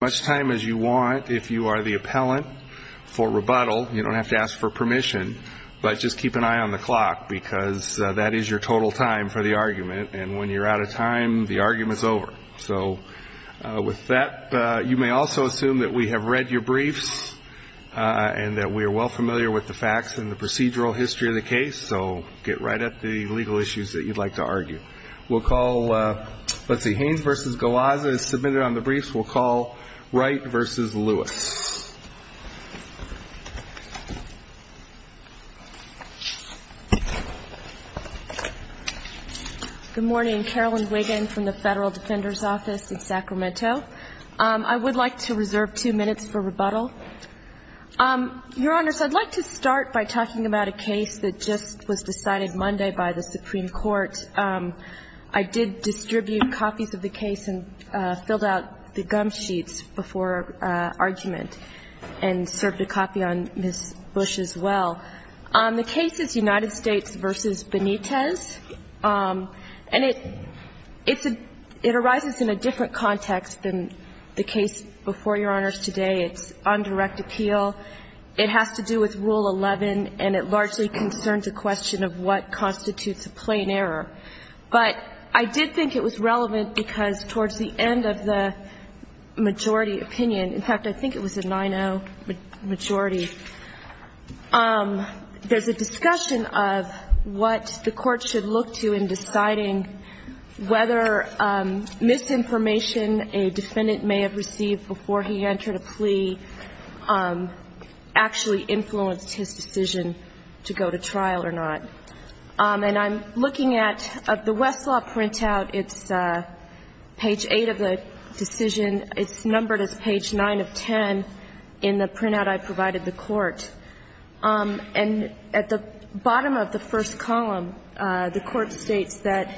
much time as you want. If you are the appellant for rebuttal, you don't have to ask for permission, but just keep an eye on the clock because that is your total time for the argument, and when you're out of time, the argument is over. So with that, you may also assume that we have read your briefs and that we are well familiar with the facts and the procedural history of the case. So get right at the legal issues that you'd like to argue. We'll call, let's see, Hanes v. Galazza is submitted on the briefs. We'll call Haines v. Galazza. Wright v. Lewis. Good morning. Carolyn Wiggin from the Federal Defender's Office in Sacramento. I would like to reserve two minutes for rebuttal. Your Honors, I'd like to start by talking about a case that just was decided Monday by the Supreme Court. I did distribute copies of the case and filled out the gum sheets before argument and served a copy on Ms. Bush as well. The case is United States v. Benitez, and it arises in a different context than the case before Your Honors today. It's undirect appeal. It has to do with Rule 11, and it largely concerns the question of what constitutes a plain error. But I did think it was relevant because towards the end of the majority opinion, in fact, I think it was a 9-0 majority, there's a discussion of what the court should look to in deciding whether misinformation a defendant may have received before he entered a plea. And I'm looking at the Westlaw printout. It's page 8 of the decision. It's numbered as page 9 of 10 in the printout I provided the Court. And at the bottom of the first column, the Court states that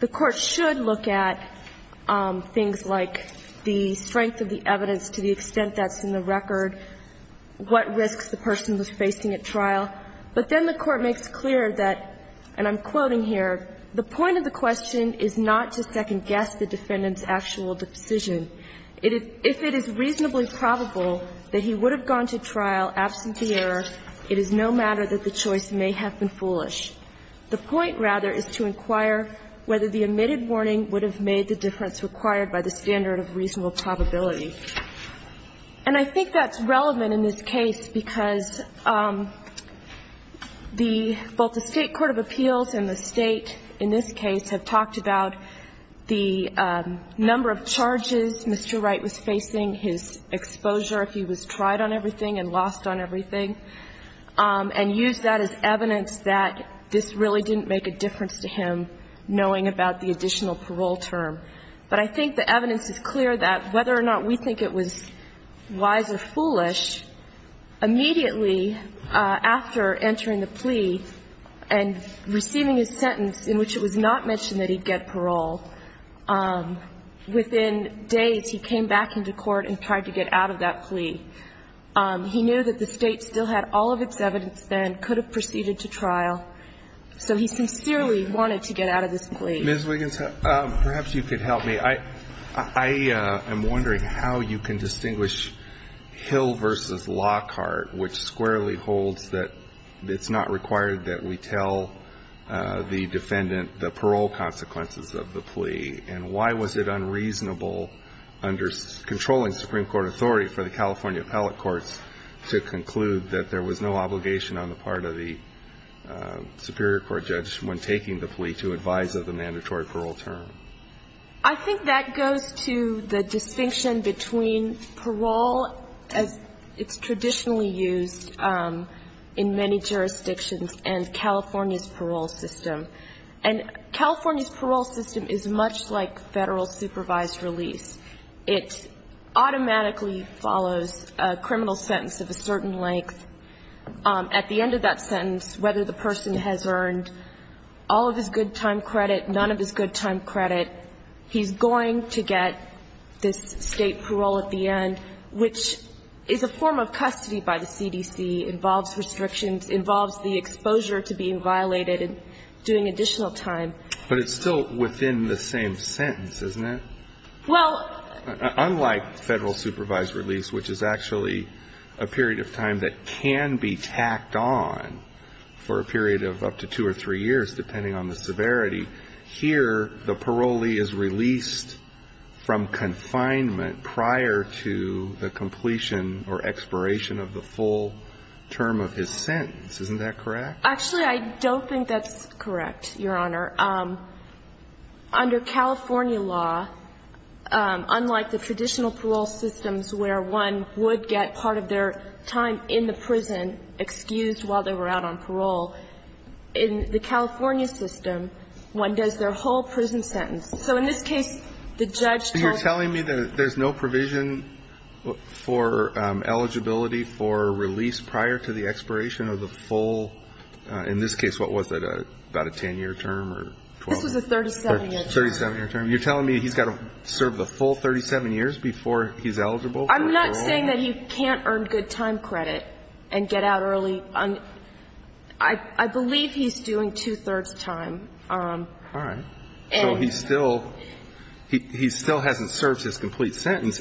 the Court should look at things like the misinformation of the defendant's intent to go to trial. And I'm quoting here, the point of the question is not to second-guess the defendant's actual decision. If it is reasonably probable that he would have gone to trial absent the error, it is no matter that the choice may have been foolish. The point, rather, is to inquire whether the admitted warning would have made the difference required by the standard of reasonable probability. And I think that's relevant in this case because the — both the State court of appeals and the State in this case have talked about the number of charges Mr. Wright was facing, his exposure, if he was tried on everything and lost on everything, and used that as evidence that this really didn't make a difference to him knowing about the additional parole term. But I think the evidence is clear that whether or not we think it was wise or foolish, immediately after entering the plea and receiving his sentence in which it was not mentioned that he'd get parole, within days he came back into court and tried to get out of that plea. He knew that the State still had all of its evidence then, could have proceeded to trial, so he sincerely wanted to get out of this plea. Ms. Wiggins, perhaps you could help me. I am wondering how you can distinguish Hill v. Lockhart, which squarely holds that it's not required that we tell the defendant the parole consequences of the plea, and why was it unreasonable under controlling Supreme Court authority for the California appellate courts to conclude that there was no obligation on the part of the superior court judge when taking the plea to advise of the mandatory parole term? I think that goes to the distinction between parole, as it's traditionally used in many jurisdictions, and California's parole system. And California's parole system is much like Federal supervised release. It automatically follows a criminal sentence of a certain length. At the end of that sentence, whether the person has earned all of his good time credit, none of his good time credit, he's going to get this State parole at the end, which is a form of custody by the CDC, involves restrictions, involves the exposure to being violated and doing additional time. But it's still within the same sentence, isn't it? Well Unlike Federal supervised release, which is actually a period of time that can be tacked on for a period of up to two or three years, depending on the severity, here the parolee is released from confinement prior to the completion or expiration of the full term of his sentence. Isn't that correct? Actually, I don't think that's correct, Your Honor. Under California law, unlike the traditional parole systems where one would get part of their time in the prison excused while they were out on parole, in the California system, one does their whole prison sentence. So in this case, the judge tells You're telling me that there's no provision for eligibility for release prior to the This was a 37-year term. 37-year term. You're telling me he's got to serve the full 37 years before he's eligible for parole? I'm not saying that he can't earn good time credit and get out early. I believe he's doing two-thirds time. All right. And So he still hasn't served his complete sentence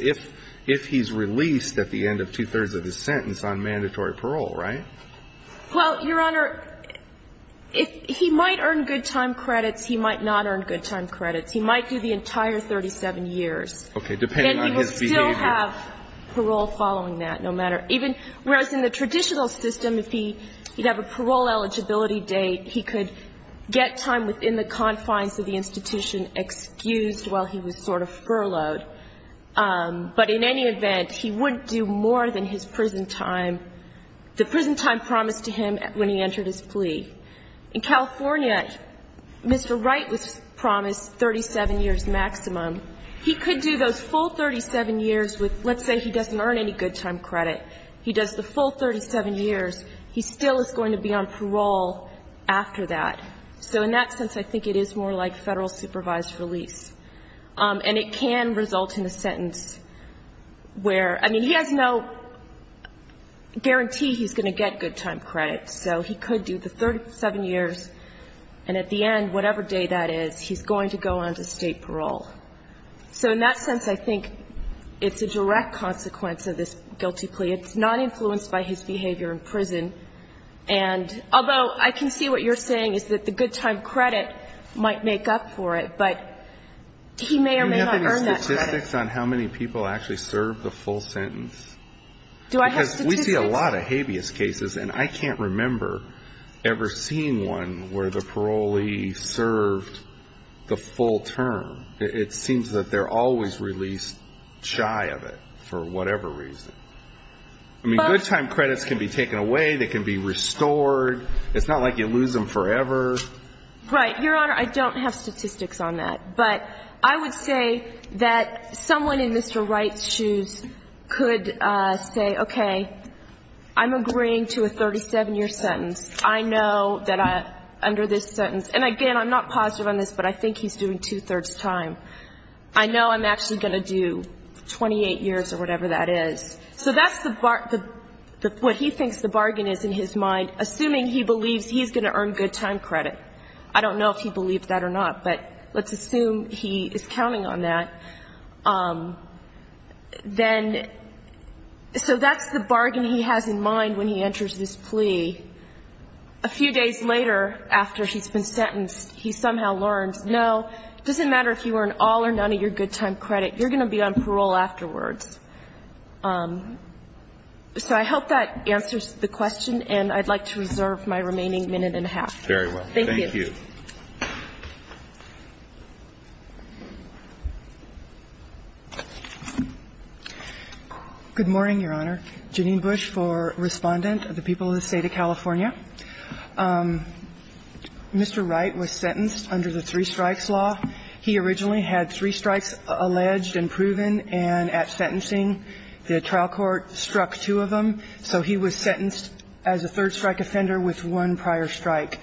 if he's released at the end of two-thirds of his sentence on mandatory parole, right? Well, Your Honor, he might earn good time credits. He might not earn good time credits. He might do the entire 37 years. Depending on his behavior. And he will still have parole following that, no matter. Even whereas in the traditional system, if he'd have a parole eligibility date, he could get time within the confines of the institution excused while he was sort of furloughed. But in any event, he wouldn't do more than his prison time. The prison time promised to him when he entered his plea. In California, Mr. Wright was promised 37 years maximum. He could do those full 37 years with, let's say he doesn't earn any good time credit. He does the full 37 years. He still is going to be on parole after that. So in that sense, I think it is more like federal supervised release. And it can result in a sentence where, I mean, he has no guarantee he's going to get good time credits. So he could do the 37 years. And at the end, whatever day that is, he's going to go on to state parole. So in that sense, I think it's a direct consequence of this guilty plea. It's not influenced by his behavior in prison. And although I can see what you're saying is that the good time credit might make up for it, but he may or may not earn that credit. Do you have any statistics on how many people actually serve the full sentence? Do I have statistics? Because we see a lot of habeas cases, and I can't remember ever seeing one where the parolee served the full term. It seems that they're always released shy of it for whatever reason. I mean, good time credits can be taken away. They can be restored. It's not like you lose them forever. Right. Your Honor, I don't have statistics on that. But I would say that someone in Mr. Wright's shoes could say, okay, I'm agreeing to a 37-year sentence. I know that under this sentence – and, again, I'm not positive on this, but I think he's doing two-thirds time. I know I'm actually going to do 28 years or whatever that is. So that's the – what he thinks the bargain is in his mind, assuming he believes he's going to earn good time credit. I don't know if he believes that or not, but let's assume he is counting on that. Then – so that's the bargain he has in mind when he enters this plea. A few days later, after he's been sentenced, he somehow learns, no, it doesn't matter if you earn all or none of your good time credit, you're going to be on parole afterwards. So I hope that answers the question, and I'd like to reserve my remaining minute and a half. Very well. Thank you. Thank you. Good morning, Your Honor. Janine Bush for Respondent of the people of the State of California. Mr. Wright was sentenced under the three-strikes law. He originally had three strikes alleged and proven, and at sentencing, the trial court struck two of them. So he was sentenced as a third-strike offender with one prior strike.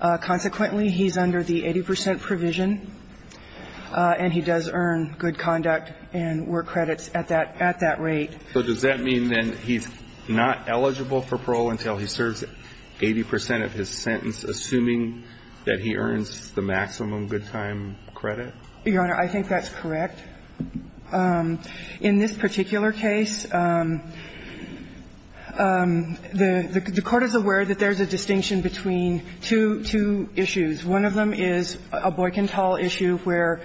Consequently, he's under the 80 percent provision, and he does earn good conduct and work credits at that – at that rate. So does that mean, then, he's not eligible for parole until he serves 80 percent of his sentence, assuming that he earns the maximum good time credit? Your Honor, I think that's correct. In this particular case, the court is aware that there's a distinction between two issues. One of them is a Boykentall issue where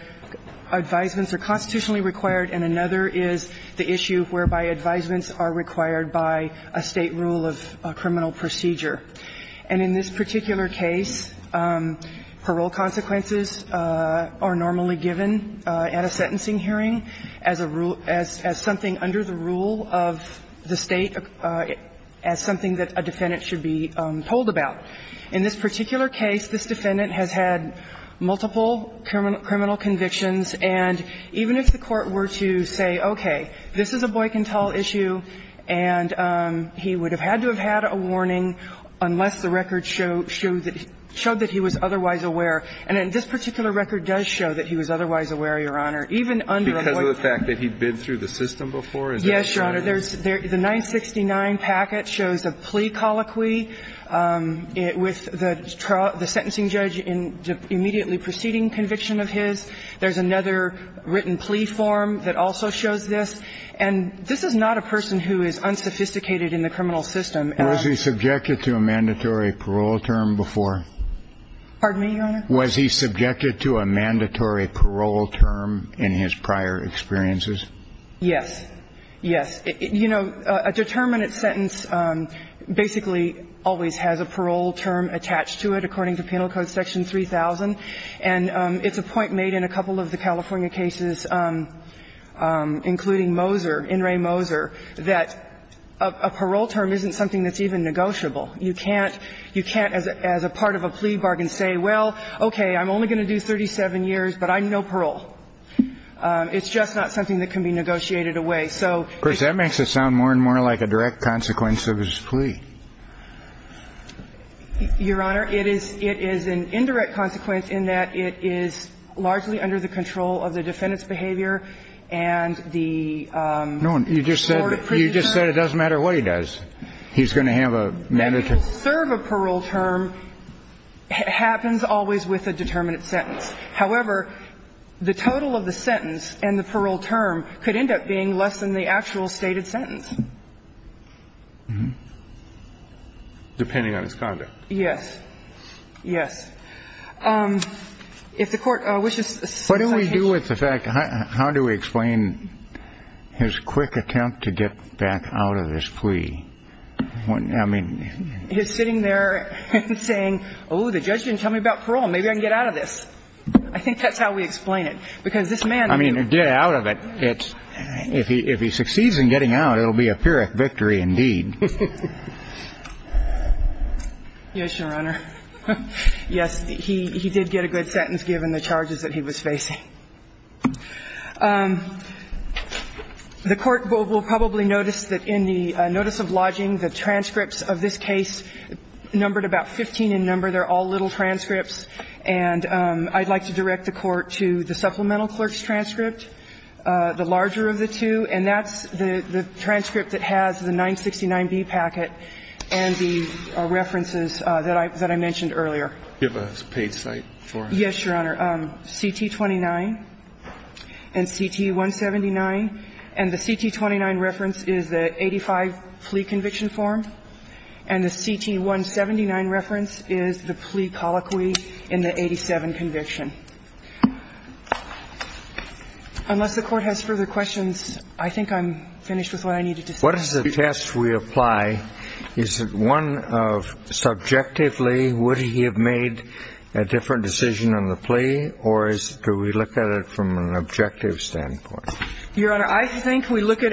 advisements are constitutionally required, and another is the issue whereby advisements are required by a State rule of criminal procedure. And in this particular case, parole consequences are normally given at a sentencing hearing as a rule – as something under the rule of the State, as something that a defendant should be told about. In this particular case, this defendant has had multiple criminal convictions. And even if the court were to say, okay, this is a Boykentall issue, and he would have had to have had a warning unless the record showed that he was otherwise aware. And this particular record does show that he was otherwise aware, Your Honor, even under a Boykentall. Because of the fact that he'd been through the system before? Yes, Your Honor. The 969 packet shows a plea colloquy with the sentencing judge immediately proceeding conviction of his. There's another written plea form that also shows this. And this is not a person who is unsophisticated in the criminal system. Was he subjected to a mandatory parole term before? Pardon me, Your Honor? Was he subjected to a mandatory parole term in his prior experiences? Yes. Yes. You know, a determinate sentence basically always has a parole term attached to it, according to Penal Code Section 3000. And it's a point made in a couple of the California cases, including Moser, In re Moser, that a parole term isn't something that's even negotiable. You can't as a part of a plea bargain say, well, okay, I'm only going to do 37 years, but I'm no parole. It's just not something that can be negotiated away. Of course, that makes it sound more and more like a direct consequence of his plea. Your Honor, it is an indirect consequence in that it is largely under the control of the defendant's behavior and the court presented. No, you just said it doesn't matter what he does. He's going to have a mandatory parole term. To serve a parole term happens always with a determinate sentence. However, the total of the sentence and the parole term could end up being less than the actual stated sentence. Depending on his conduct. Yes. Yes. If the Court wishes. What do we do with the fact? How do we explain his quick attempt to get back out of this plea? I mean. He's sitting there saying, oh, the judge didn't tell me about parole. Maybe I can get out of this. I think that's how we explain it. Because this man. I mean, get out of it. If he succeeds in getting out, it will be a Pyrrhic victory indeed. Yes, Your Honor. Yes. He did get a good sentence given the charges that he was facing. The Court will probably notice that in the notice of lodging, the transcripts of this case numbered about 15 in number. They're all little transcripts. And I'd like to direct the Court to the supplemental clerk's transcript. The larger of the two. And that's the transcript that has the 969B packet and the references that I mentioned earlier. Do you have a page site for it? Yes, Your Honor. CT-29 and CT-179. And the CT-29 reference is the 85 plea conviction form. And the CT-179 reference is the plea colloquy in the 87 conviction. Unless the Court has further questions, I think I'm finished with what I needed to say. What is the test we apply? Is it one of subjectively would he have made a different decision on the plea, or do we look at it from an objective standpoint? Your Honor, I think we look at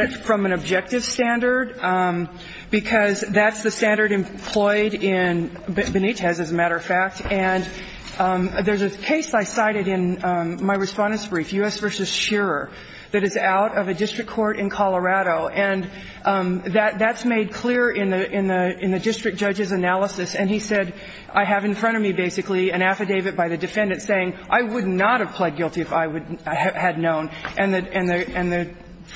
it from an objective standard, because that's the standard employed in Benitez, as a matter of fact. And there's a case I cited in my Respondents' Brief, U.S. v. Shearer, that is out of a district court in Colorado. And that's made clear in the district judge's analysis. And he said, I have in front of me basically an affidavit by the defendant saying I would not have pled guilty if I had known. And the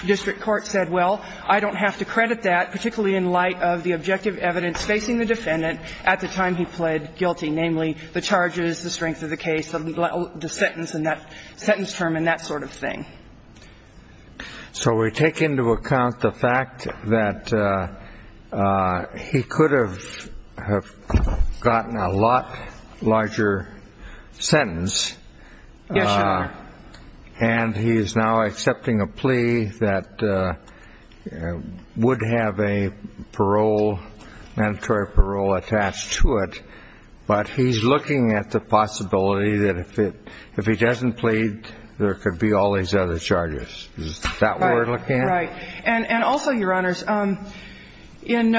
district court said, well, I don't have to credit that, particularly in light of the objective evidence facing the defendant at the time he pled guilty, namely the charges, the strength of the case, the sentence in that sentence term, and that sort of thing. So we take into account the fact that he could have gotten a lot larger sentence. Yes, Your Honor. And he is now accepting a plea that would have a parole, mandatory parole attached to it. But he's looking at the possibility that if he doesn't plead, there could be all these other charges. Is that what we're looking at? Right. And also, Your Honors, in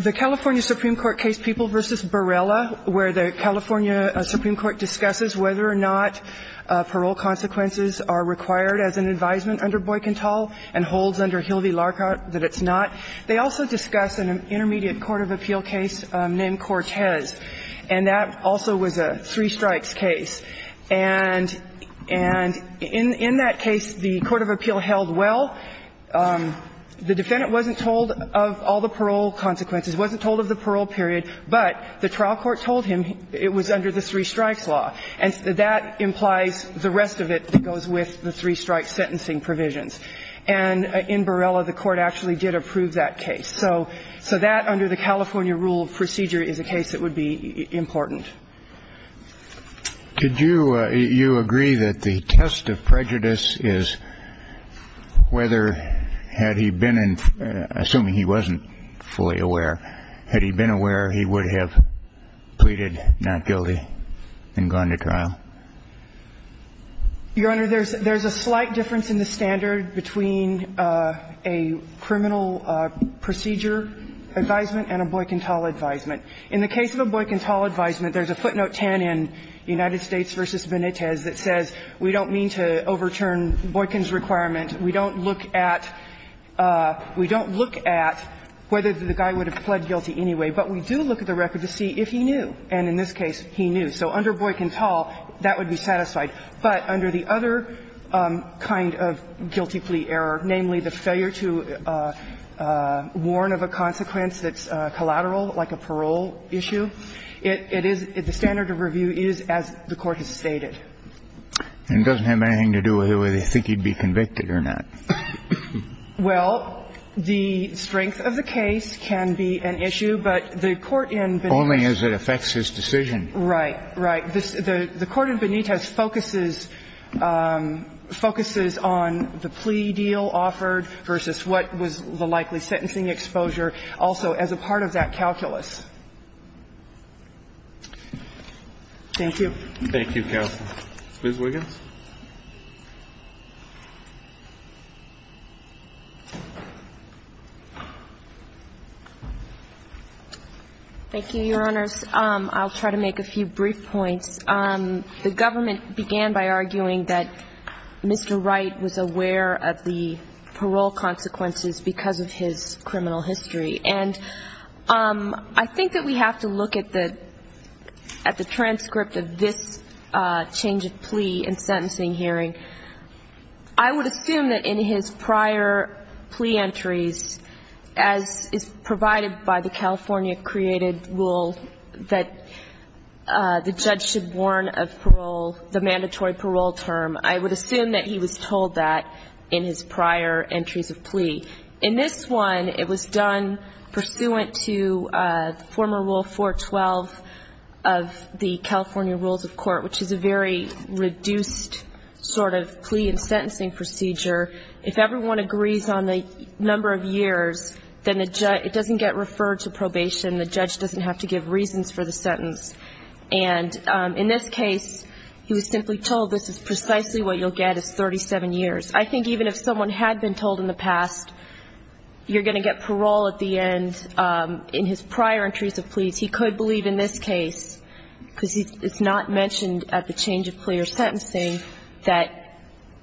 the California Supreme Court case, People v. Barella, where the California Supreme Court discusses whether or not parole consequences are required as an advisement under Boycantel and holds under Hillevy-Larcot that it's not, they also discuss an intermediate court of appeal case named Cortez. And that also was a three-strikes case. And in that case, the court of appeal held well. The defendant wasn't told of all the parole consequences, wasn't told of the parole period, but the trial court told him it was under the three-strikes law. And that implies the rest of it that goes with the three-strikes sentencing provisions. And in Barella, the court actually did approve that case. So that, under the California rule of procedure, is a case that would be important. Could you agree that the test of prejudice is whether had he been in, assuming he wasn't fully aware, had he been aware, he would have pleaded not guilty and gone to trial? Your Honor, there's a slight difference in the standard between a criminal procedure advisement and a Boycantel advisement. In the case of a Boycantel advisement, there's a footnote 10 in United States v. Benitez that says we don't mean to overturn Boycan's requirement. We don't look at whether the guy would have pled guilty anyway. But we do look at the record to see if he knew. And in this case, he knew. So under Boycantel, that would be satisfied. But under the other kind of guilty plea error, namely the failure to warn of a consequence that's collateral, like a parole issue, it is the standard of review is as the court has stated. And it doesn't have anything to do with whether you think he'd be convicted or not. Well, the strength of the case can be an issue, but the court in Benitez. Only as it affects his decision. Right. Right. The court in Benitez focuses on the plea deal offered versus what was the likely sentencing exposure also as a part of that calculus. Thank you. Thank you, counsel. Ms. Wiggins. Thank you, Your Honors. I'll try to make a few brief points. The government began by arguing that Mr. Wright was aware of the parole consequences because of his criminal history. And I think that we have to look at the transcript of this change of plea in sentencing hearing. I would assume that in his prior plea entries, as is provided by the California created rule that the judge should warn of parole, the mandatory parole term, I would assume that he was told that in his prior entries of plea. In this one, it was done pursuant to the former rule 412 of the California rules of court, which is a very reduced sort of plea in sentencing procedure. If everyone agrees on the number of years, then it doesn't get referred to probation. The judge doesn't have to give reasons for the sentence. And in this case, he was simply told this is precisely what you'll get is 37 years. I think even if someone had been told in the past, you're going to get parole at the end, in his prior entries of pleas, he could believe in this case, because it's not mentioned at the change of plea or sentencing, that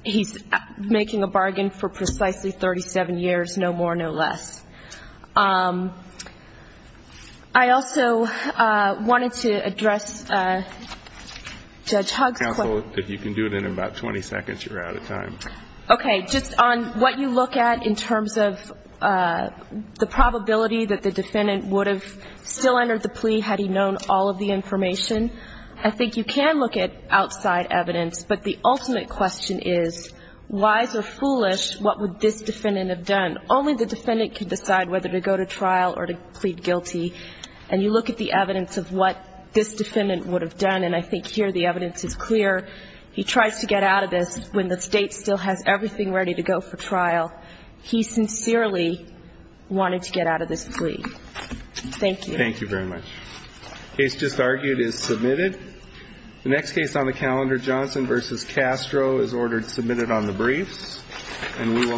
he's making a bargain for precisely 37 years, no more, no less. I also wanted to address Judge Hogg's question. If you can do it in about 20 seconds, you're out of time. Okay. Just on what you look at in terms of the probability that the defendant would have still entered the plea had he known all of the information, I think you can look at outside evidence. But the ultimate question is, wise or foolish, what would this defendant have done? Only the defendant can decide whether to go to trial or to plead guilty. And you look at the evidence of what this defendant would have done, and I think here the evidence is clear. He tries to get out of this when the State still has everything ready to go for trial. He sincerely wanted to get out of this plea. Thank you. Thank you very much. The case just argued is submitted. The next case on the calendar, Johnson v. Castro, is ordered submitted on the briefs, and we will now close the hearing.